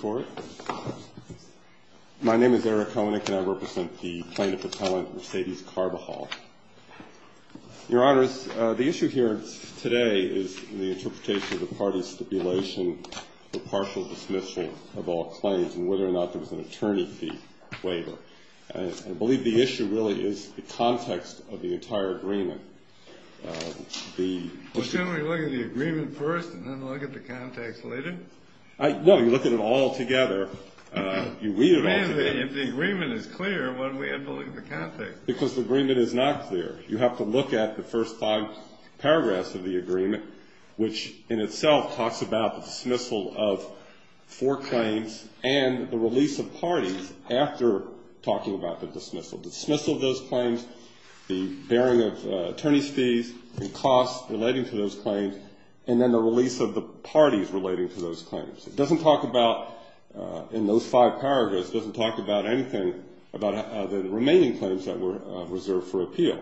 Court. My name is Eric Koenig, and I represent the plaintiff appellant Mercedes Carvajal. Your Honors, the issue here today is the interpretation of the party's stipulation for partial dismissal of all claims and whether or not there was an attorney fee waiver. I believe the issue really is the context of the entire agreement. Well, shouldn't we look at the agreement first and then look at the context later? No, you look at it all together. You read it all together. If the agreement is clear, why don't we have to look at the context? Because the agreement is not clear. You have to look at the first five paragraphs of the agreement, which in itself talks about the dismissal of four claims and the release of parties after talking about the dismissal. The dismissal of those claims, the bearing of attorney's fees and costs relating to those claims, and then the release of the parties relating to those claims. It doesn't talk about, in those five paragraphs, doesn't talk about anything about the remaining claims that were reserved for appeal.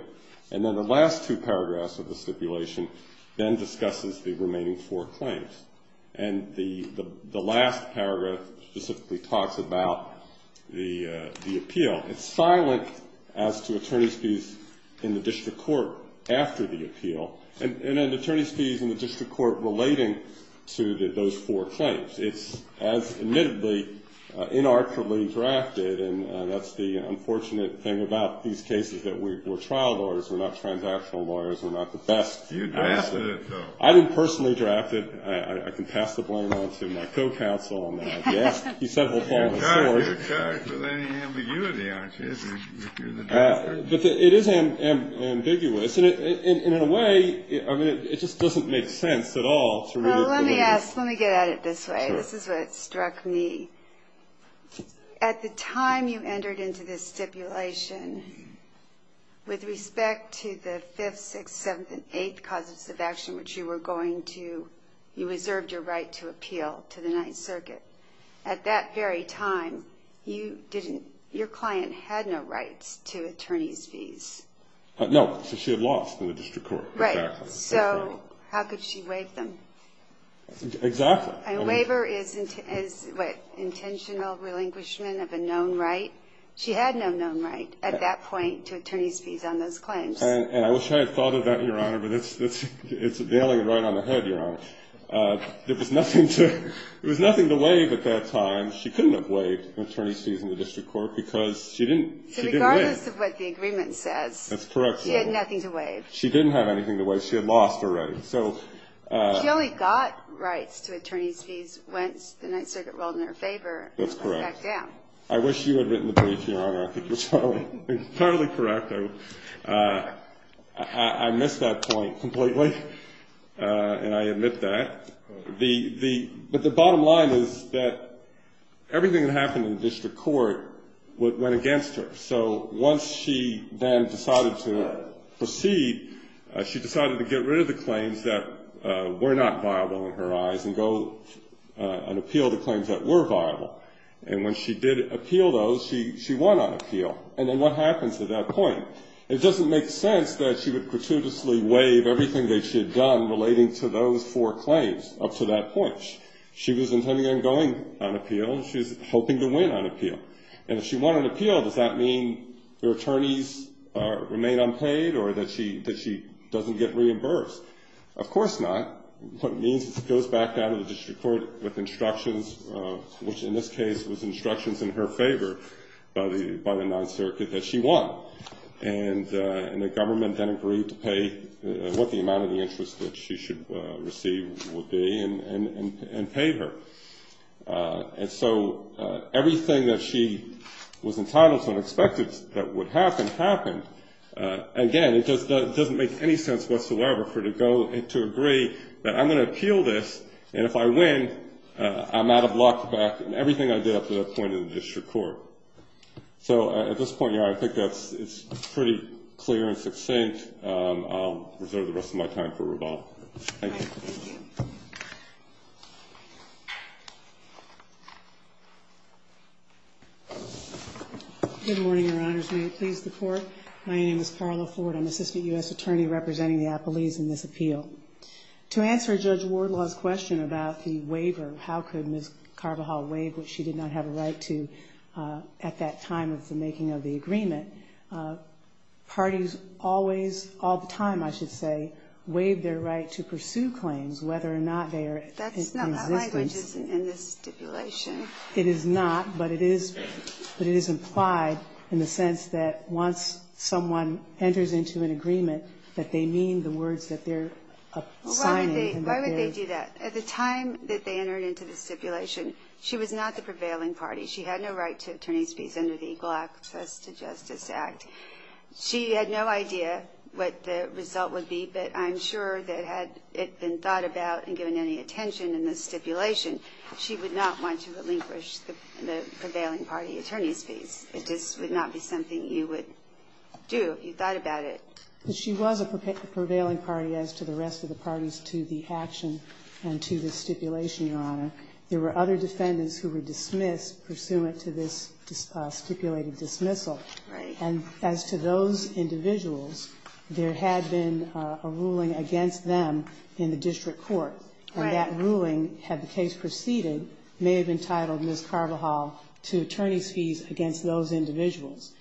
And then the last two paragraphs of the stipulation then discusses the remaining four claims. And the last paragraph specifically talks about the appeal. It's silent as to attorney's fees in the district court after the appeal, and then attorney's fees in the district court relating to those four claims. It's, as admittedly, inarticulately drafted, and that's the unfortunate thing about these cases that we're trial lawyers. We're not transactional lawyers. We're not the best. You drafted it, though. I didn't personally draft it. I can pass the blame on to my co-counsel on that. You talk with ambiguity, aren't you? It is ambiguous, and in a way, it just doesn't make sense at all. Let me get at it this way. This is what struck me. At the time you entered into this stipulation, with respect to the 5th, 6th, 7th, and 8th causes of action which you were going to, you reserved your right to appeal to the Ninth Circuit. At that very time, your client had no rights to attorney's fees. No, she had lost in the district court. Right. So how could she waive them? Exactly. A waiver is intentional relinquishment of a known right. She had no known right at that point to attorney's fees on those claims. And I wish I had thought of that, Your Honor, but it's a nailing it right on the head, Your Honor. There was nothing to waive at that time. She couldn't have waived attorney's fees in the district court because she didn't win. So regardless of what the agreement says, she had nothing to waive. That's correct, Your Honor. She didn't have anything to waive. She had lost already. She only got rights to attorney's fees once the Ninth Circuit ruled in her favor and backed down. That's correct. I wish you had written the brief, Your Honor. I think you're entirely correct. I missed that point completely, and I admit that. But the bottom line is that everything that happened in the district court went against her. So once she then decided to proceed, she decided to get rid of the claims that were not viable in her eyes and go and appeal the claims that were viable. And when she did appeal those, she won on appeal. And then what happens at that point? It doesn't make sense that she would gratuitously waive everything that she had done relating to those four claims up to that point. She was intending on going on appeal, and she was hoping to win on appeal. And if she won on appeal, does that mean her attorneys remain unpaid or that she doesn't get reimbursed? Of course not. What it means is it goes back down to the district court with instructions, which in this case was instructions in her favor by the Ninth Circuit that she won. And the government then agreed to pay what the amount of the interest that she should receive would be and pay her. And so everything that she was entitled to and expected that would happen happened. Again, it just doesn't make any sense whatsoever for her to go and to agree that I'm going to appeal this, and if I win I'm out of luck about everything I did up to that point in the district court. So at this point, Your Honor, I think that's pretty clear and succinct. I'll reserve the rest of my time for rebuttal. Thank you. Thank you. Good morning, Your Honors. May it please the Court. My name is Carla Ford. I'm Assistant U.S. Attorney representing the appellees in this appeal. To answer Judge Wardlaw's question about the waiver, how could Ms. Carvajal waive, which she did not have a right to at that time of the making of the agreement, parties always, all the time I should say, waive their right to pursue claims whether or not they are in existence. That's not the language in this stipulation. It is not, but it is implied in the sense that once someone enters into an agreement, that they mean the words that they're signing. Why would they do that? At the time that they entered into the stipulation, she was not the prevailing party. She had no right to attorney's fees under the Equal Access to Justice Act. She had no idea what the result would be, but I'm sure that had it been thought about and given any attention in the stipulation, she would not want to relinquish the prevailing party attorney's fees. It just would not be something you would do if you thought about it. But she was a prevailing party as to the rest of the parties to the action and to the stipulation, Your Honor. There were other defendants who were dismissed pursuant to this stipulated dismissal. And as to those individuals, there had been a ruling against them in the district court. And that ruling, had the case proceeded, may have entitled Ms. Carvajal to attorney's fees against those individuals.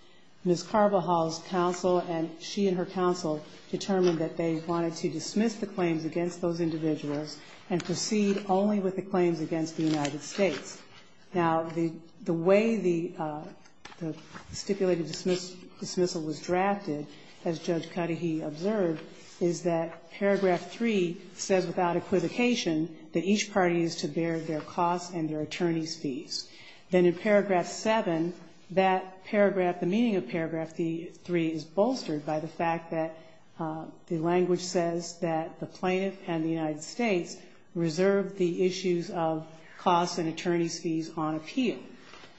Ms. Carvajal's counsel and she and her counsel determined that they wanted to dismiss the claims against those individuals and proceed only with the claims against the United States. Now, the way the stipulated dismissal was drafted, as Judge Cuddehy observed, is that paragraph 3 says without equivocation that each party is to bear their costs and their attorney's fees. Then in paragraph 7, that paragraph, the meaning of paragraph 3 is bolstered by the fact that the language says that the plaintiff and the United States reserve the issues of costs and attorney's fees on appeal.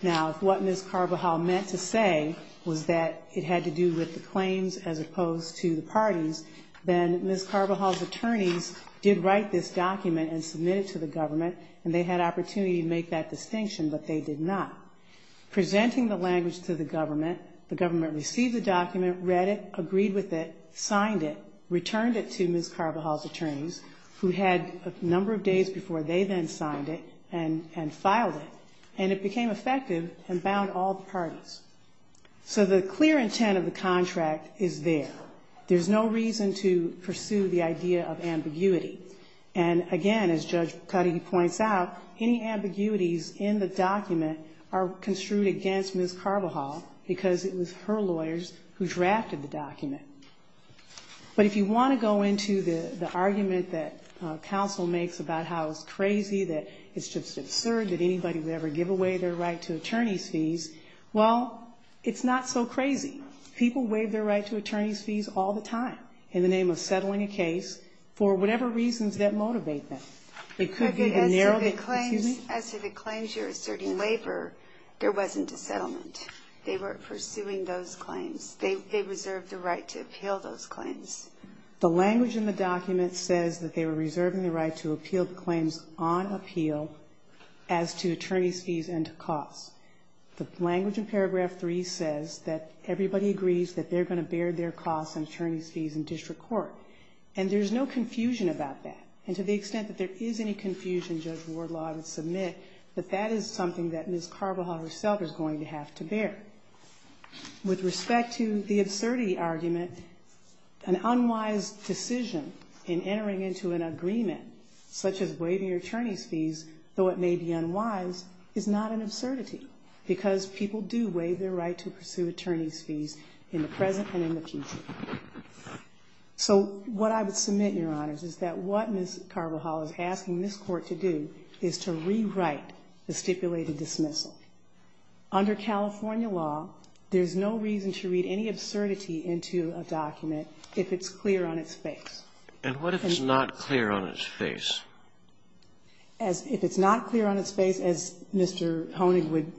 Now, if what Ms. Carvajal meant to say was that it had to do with the claims as opposed to the parties, then Ms. Carvajal's attorneys did write this document and submit it to the government, and they had opportunity to make that distinction, but they did not. Presenting the language to the government, the government received the document, read it, agreed with it, signed it, returned it to Ms. Carvajal's attorneys, who had a number of days before they then signed it and filed it, and it became effective and bound all parties. So the clear intent of the contract is there. There's no reason to pursue the idea of ambiguity. And again, as Judge Cuddehy points out, any ambiguities in the document are construed against Ms. Carvajal because it was her lawyers who drafted the document. But if you want to go into the argument that counsel makes about how it's crazy, that it's just absurd that anybody would ever give away their right to attorney's fees, well, it's not so crazy. People waive their right to attorney's fees all the time in the name of settling a case for whatever reasons that motivate them. It could be a narrowed- Excuse me? As to the claims you're asserting waiver, there wasn't a settlement. They weren't pursuing those claims. They reserved the right to appeal those claims. The language in the document says that they were reserving the right to appeal the claims on appeal as to attorney's fees and to costs. The language in paragraph 3 says that everybody agrees that they're going to bear their costs and attorney's fees in district court. And there's no confusion about that. And to the extent that there is any confusion, Judge Wardlaw, I would submit that that is something that Ms. Carvajal herself is going to have to bear. With respect to the absurdity argument, an unwise decision in entering into an agreement, such as waiving your attorney's fees, though it may be unwise, is not an absurdity argument, because people do waive their right to pursue attorney's fees in the present and in the future. So what I would submit, Your Honors, is that what Ms. Carvajal is asking this Court to do is to rewrite the stipulated dismissal. Under California law, there's no reason to read any absurdity into a document if it's clear on its face. And what if it's not clear on its face? As if it's not clear on its face, as Mr. Honig would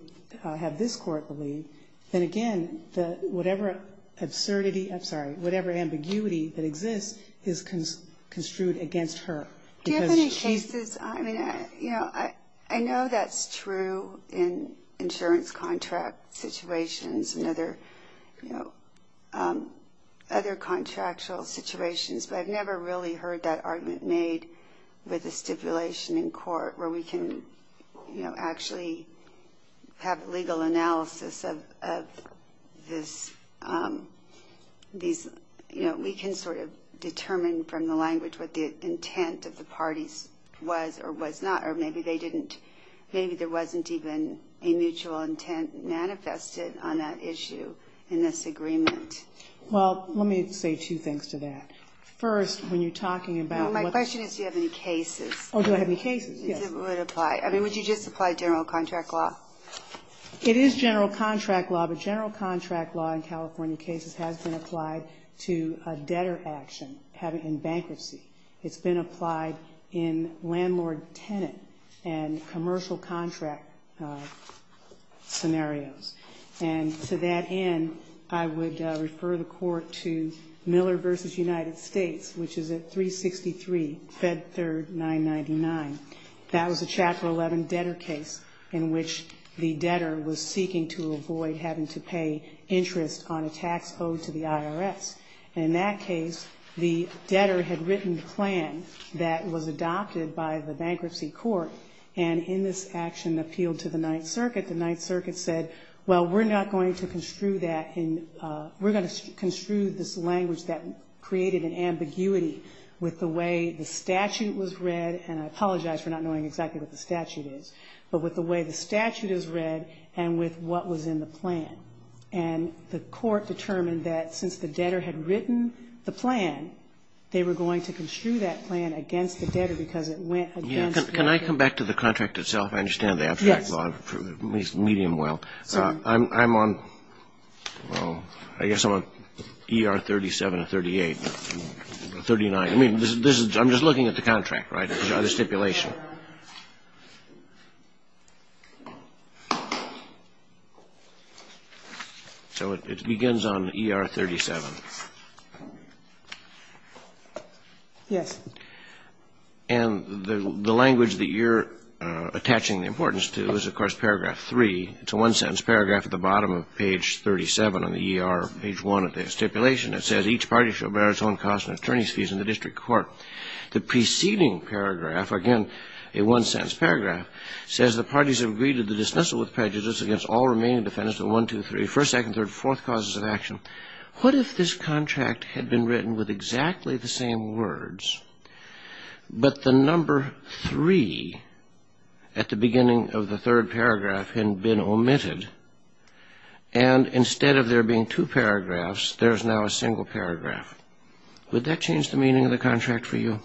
have this Court believe, then again, whatever absurdity, I'm sorry, whatever ambiguity that exists is construed against her. Do you have any cases, I mean, you know, I know that's true in insurance contract situations and other, you know, other contractual situations, but I've never really heard that argument made with a stipulation in court where we can, you know, actually have legal analysis of this. You know, we can sort of determine from the language what the intent of the parties was or was not, or maybe they didn't, maybe there wasn't even a mutual intent manifested on that issue in this agreement. Well, let me say two things to that. First, when you're talking about what's... Well, my question is do you have any cases? Oh, do I have any cases? Yes. If it would apply. I mean, would you just apply general contract law? It is general contract law, but general contract law in California cases has been applied to a debtor action in bankruptcy. It's been applied in landlord-tenant and commercial contract scenarios. And to that end, I would refer the court to Miller v. United States, which is at 363, Fed Third 999. That was a Chapter 11 debtor case in which the debtor was seeking to avoid having to pay interest on a tax owed to the IRS. In that case, the debtor had written the plan that was adopted by the bankruptcy court, and in this action appealed to the Ninth Circuit. The Ninth Circuit said, well, we're not going to construe that in we're going to construe this language that created an ambiguity with the way the statute was read. And I apologize for not knowing exactly what the statute is. But with the way the statute is read and with what was in the plan. And the court determined that since the debtor had written the plan, they were going to construe that plan against the debtor because it went against the debtor. Can I come back to the contract itself? I understand the abstract law. Yes. At least medium well. I'm on, well, I guess I'm on ER 37 or 38, 39. I mean, this is, I'm just looking at the contract, right, the stipulation. So it begins on ER 37. Yes. And the language that you're attaching the importance to is, of course, paragraph 3. It's a one-sentence paragraph at the bottom of page 37 on the ER, page 1 of the stipulation. It says, each party shall bear its own costs and attorney's fees in the district court. The preceding paragraph, again, a one-sentence paragraph, says the parties have agreed to the dismissal with prejudice against all remaining defendants in 1, 2, 3, 1st, 2nd, 3rd, 4th causes of action. What if this contract had been written with exactly the same words, but the number 3 at the beginning of the third paragraph had been omitted, and instead of there being two paragraphs, there's now a single paragraph? Would that change the meaning of the contract for you?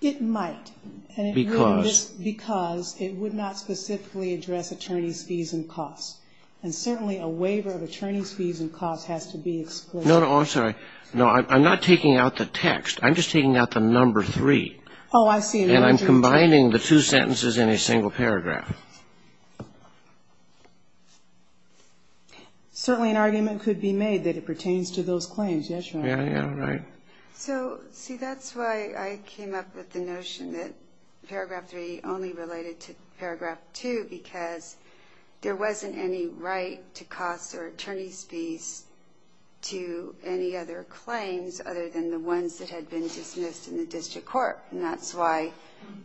It might. Because? Because it would not specifically address attorney's fees and costs. And certainly a waiver of attorney's fees and costs has to be explicit. No, no, I'm sorry. No, I'm not taking out the text. I'm just taking out the number 3. Oh, I see. And I'm combining the two sentences in a single paragraph. Certainly an argument could be made that it pertains to those claims. Yes, Your Honor. Yeah, yeah, right. So, see, that's why I came up with the notion that paragraph 3 only related to paragraph 2, because there wasn't any right to costs or attorney's fees to any other claims other than the ones that had been dismissed in the district court. And that's why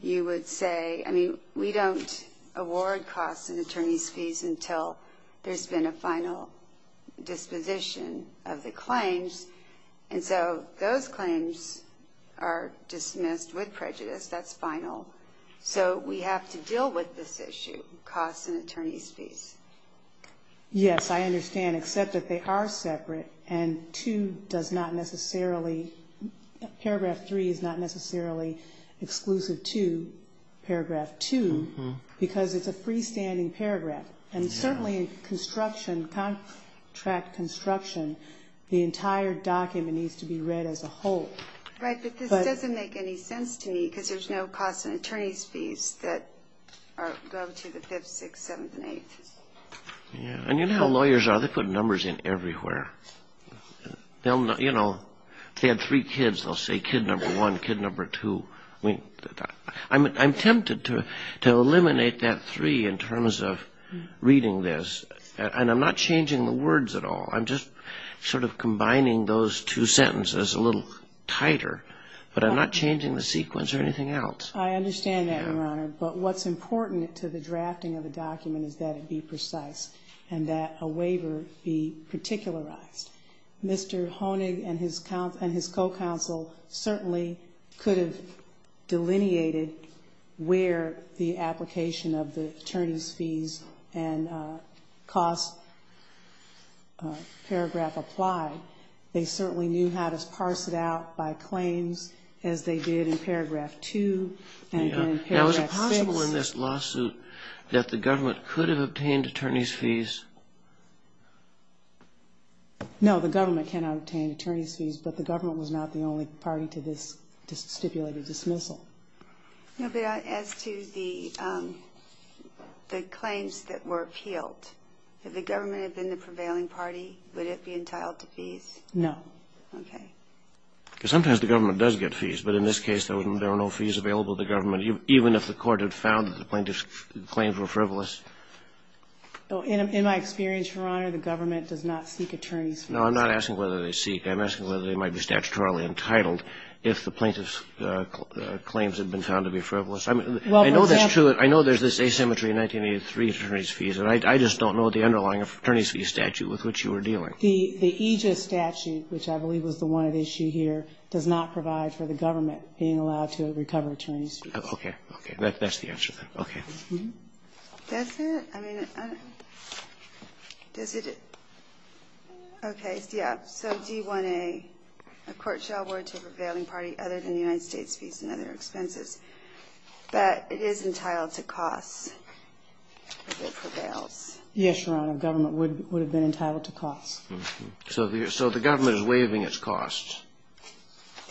you would say, I mean, we don't award costs and attorney's fees until there's been a final disposition of the claims. And so those claims are dismissed with prejudice. That's final. So we have to deal with this issue, costs and attorney's fees. Yes, I understand, except that they are separate, and 2 does not necessarily paragraph 3 is not necessarily exclusive to paragraph 2, because it's a freestanding paragraph. And certainly in construction, contract construction, the entire document needs to be read as a whole. Right, but this doesn't make any sense to me, because there's no costs and attorney's fees that go to the 5th, 6th, 7th, and 8th. Yeah, and you know how lawyers are. They put numbers in everywhere. They'll, you know, if they had three kids, they'll say kid number 1, kid number 2. I'm tempted to eliminate that 3 in terms of reading this. And I'm not changing the words at all. I'm just sort of combining those two sentences a little tighter. But I'm not changing the sequence or anything else. I understand that, Your Honor. But what's important to the drafting of a document is that it be precise and that a waiver be particularized. Mr. Honig and his co-counsel certainly could have delineated where the application of the attorney's fees and cost paragraph applied. They certainly knew how to parse it out by claims as they did in paragraph 2 and in paragraph 6. Is it possible in this lawsuit that the government could have obtained attorney's fees? No, the government cannot obtain attorney's fees, but the government was not the only party to this stipulated dismissal. No, but as to the claims that were appealed, if the government had been the prevailing party, would it be entitled to fees? No. Okay. Because sometimes the government does get fees, but in this case, there were no fees available to the government, even if the court had found that the plaintiff's claims were frivolous. In my experience, Your Honor, the government does not seek attorney's fees. No, I'm not asking whether they seek. I'm asking whether they might be statutorily entitled if the plaintiff's claims had been found to be frivolous. I know there's this asymmetry in 1983 attorney's fees, and I just don't know the underlying attorney's fees statute with which you were dealing. The EJIS statute, which I believe was the one at issue here, does not provide for the government being allowed to recover attorney's fees. Okay. That's the answer then. Okay. Does it? I mean, does it? Okay. Yeah. So D-1A, a court shall award to a prevailing party other than the United States fees and other expenses. But it is entitled to costs if it prevails. Yes, Your Honor. And the government would have been entitled to costs. So the government is waiving its costs.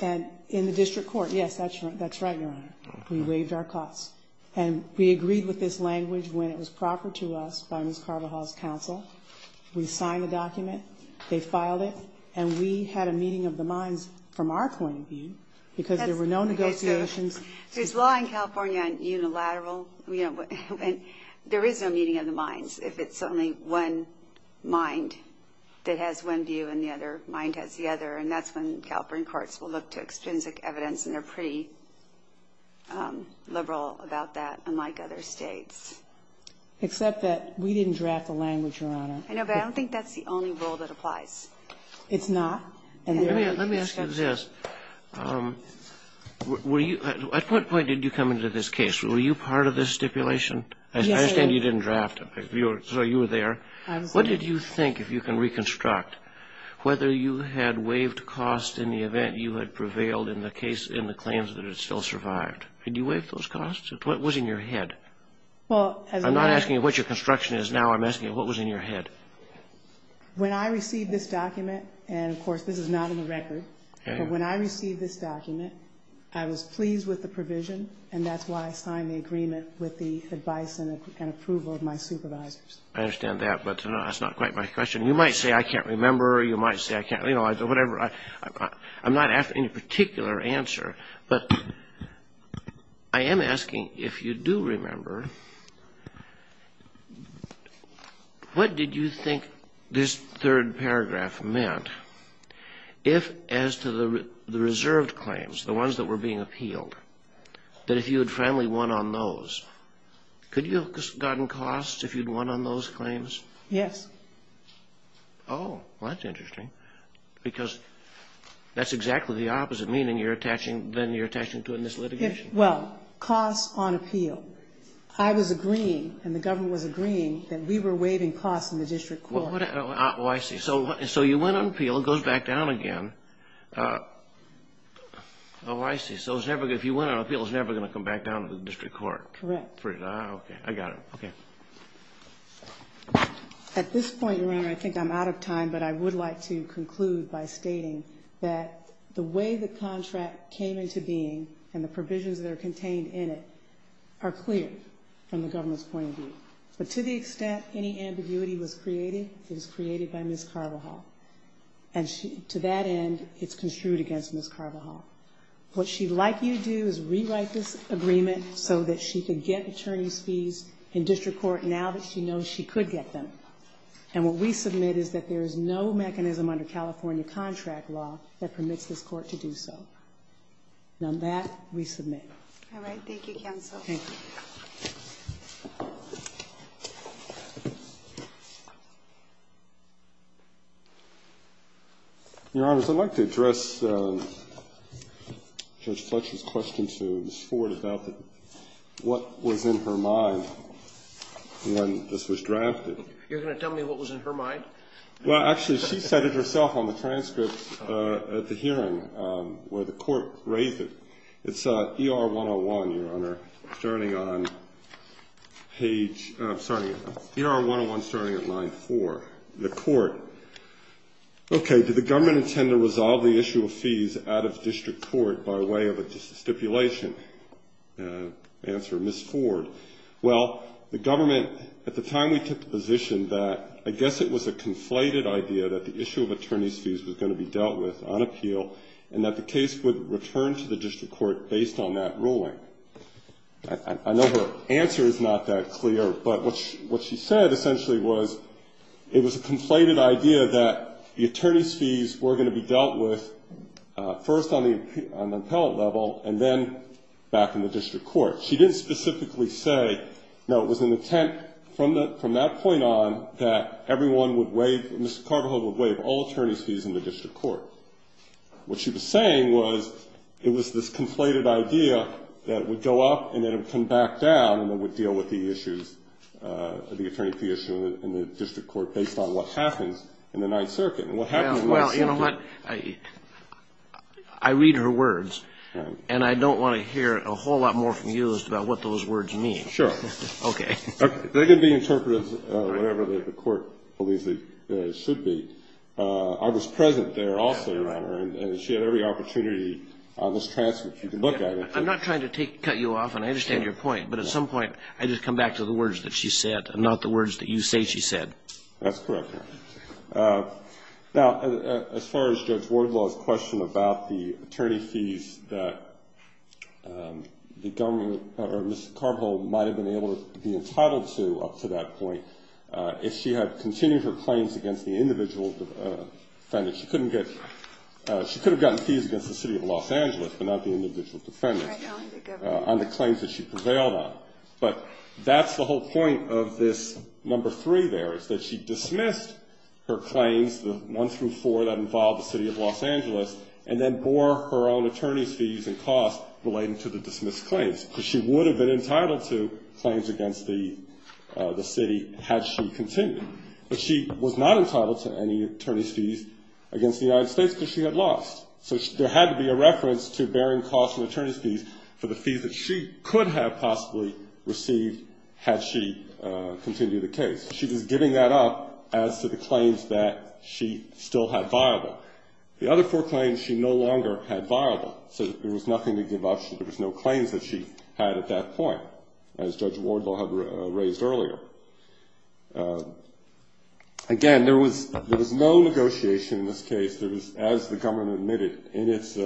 And in the district court, yes, that's right, Your Honor. We waived our costs. And we agreed with this language when it was proffered to us by Ms. Carvajal's counsel. We signed the document. They filed it. And we had a meeting of the minds from our point of view, because there were no negotiations. There's law in California on unilateral. And there is no meeting of the minds if it's only one mind that has one view and the other mind has the other. And that's when California courts will look to extrinsic evidence. And they're pretty liberal about that, unlike other states. Except that we didn't draft the language, Your Honor. I know, but I don't think that's the only rule that applies. It's not? Let me ask you this. At what point did you come into this case? Were you part of this stipulation? Yes, I was. I understand you didn't draft it. So you were there. I was there. What did you think, if you can reconstruct, whether you had waived costs in the event you had prevailed in the claims that it still survived? Did you waive those costs? What was in your head? I'm not asking what your construction is now. I'm asking what was in your head. When I received this document, and of course this is not in the record, but when I received this document, I was pleased with the provision. And that's why I signed the agreement with the advice and approval of my supervisors. I understand that. But that's not quite my question. You might say I can't remember. You might say I can't, you know, whatever. I'm not asking a particular answer. But I am asking if you do remember, what did you think this third paragraph meant if, as to the reserved claims, the ones that were being appealed, that if you had finally won on those, could you have gotten costs if you'd won on those claims? Yes. Oh, well, that's interesting. Because that's exactly the opposite, meaning then you're attaching to it in this litigation. Well, costs on appeal. I was agreeing, and the government was agreeing, that we were waiving costs in the district court. Oh, I see. So you went on appeal. It goes back down again. Oh, I see. So if you went on appeal, it's never going to come back down to the district court. Correct. Okay. I got it. Okay. At this point, Your Honor, I think I'm out of time, but I would like to conclude by stating that the way the contract came into being and the provisions that are contained in it are clear from the government's point of view. But to the extent any ambiguity was created, it was created by Ms. Carvajal. And to that end, it's construed against Ms. Carvajal. What she'd like you to do is rewrite this agreement so that she could get attorney's fees in district court now that she knows she could get them. And what we submit is that there is no mechanism under California contract law that permits this court to do so. And on that, we submit. All right. Thank you, counsel. Thank you. Your Honors, I'd like to address Judge Fletcher's question to Ms. Ford about what was in her mind when this was drafted. You're going to tell me what was in her mind? Well, actually, she said it herself on the transcript at the hearing where the court raised it. It's ER 101, Your Honor, starting on page ‑‑ sorry. ER 101 starting at line 4. The court. Okay. Did the government intend to resolve the issue of fees out of district court by way of a stipulation? Answer, Ms. Ford. Well, the government at the time we took the position that I guess it was a conflated idea that the issue of attorney's fees was going to be dealt with on appeal and that the case would return to the district court based on that ruling. I know her answer is not that clear, but what she said essentially was it was a conflated idea that the attorney's fees were going to be dealt with first on the appellate level and then back in the district court. She didn't specifically say, no, it was an intent from that point on that everyone would waive, Mr. Carvajal would waive all attorney's fees in the district court. What she was saying was it was this conflated idea that would go up and then it would come back down and then we'd deal with the issues, the attorney fee issue in the district court based on what happens in the Ninth Circuit. And what happens in the Ninth Circuit ‑‑ Well, you know what, I read her words, and I don't want to hear a whole lot more from you as to what those words mean. Sure. Okay. They can be interpreted whatever the court believes they should be. I was present there also, Your Honor, and she had every opportunity on this transcript. You can look at it. I'm not trying to cut you off, and I understand your point, but at some point I just come back to the words that she said and not the words that you say she said. That's correct, Your Honor. Now, as far as Judge Wardlaw's question about the attorney fees that the government or Ms. Carvel might have been able to be entitled to up to that point, if she had continued her claims against the individual defendants, she could have gotten fees against the City of Los Angeles but not the individual defendants on the claims that she prevailed on. But that's the whole point of this number three there is that she dismissed her claims, the one through four that involved the City of Los Angeles, and then bore her own attorney's fees and costs relating to the dismissed claims, because she would have been entitled to claims against the city had she continued. But she was not entitled to any attorney's fees against the United States because she had lost. So there had to be a reference to bearing costs and attorney's fees for the fees that she could have possibly received had she continued the case. She was giving that up as to the claims that she still had viable. The other four claims she no longer had viable, so there was nothing to give up. There was no claims that she had at that point, as Judge Wardlaw had raised earlier. Again, there was no negotiation in this case. There was, as the government admitted in its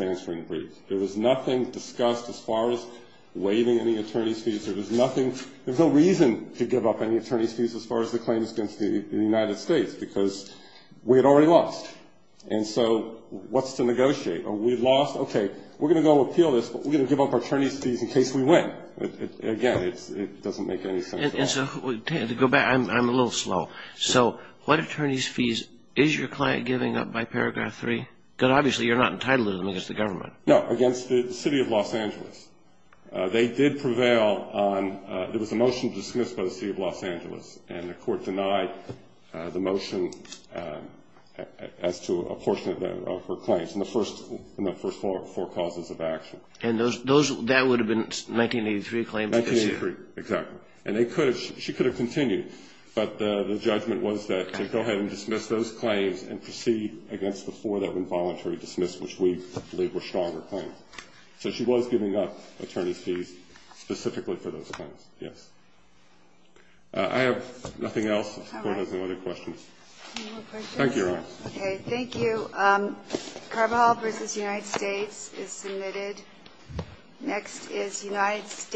answering brief, there was nothing discussed as far as waiving any attorney's fees. There was no reason to give up any attorney's fees as far as the claims against the United States because we had already lost. And so what's to negotiate? Are we lost? Okay, we're going to go appeal this, but we're going to give up attorney's fees in case we win. Again, it doesn't make any sense at all. And so to go back, I'm a little slow. So what attorney's fees is your client giving up by Paragraph 3? Because obviously you're not entitled to them against the government. No, against the City of Los Angeles. They did prevail on the motion to dismiss by the City of Los Angeles, and the court denied the motion as to a portion of her claims in the first four causes of action. And that would have been 1983 claims? 1983, exactly. And she could have continued, but the judgment was that to go ahead and dismiss those claims and proceed against the four that were voluntarily dismissed, which we believe were stronger claims. So she was giving up attorney's fees specifically for those claims, yes. I have nothing else. The court has no other questions. Any more questions? Thank you, Your Honor. Okay, thank you. Carvajal v. United States is submitted. Next is United States.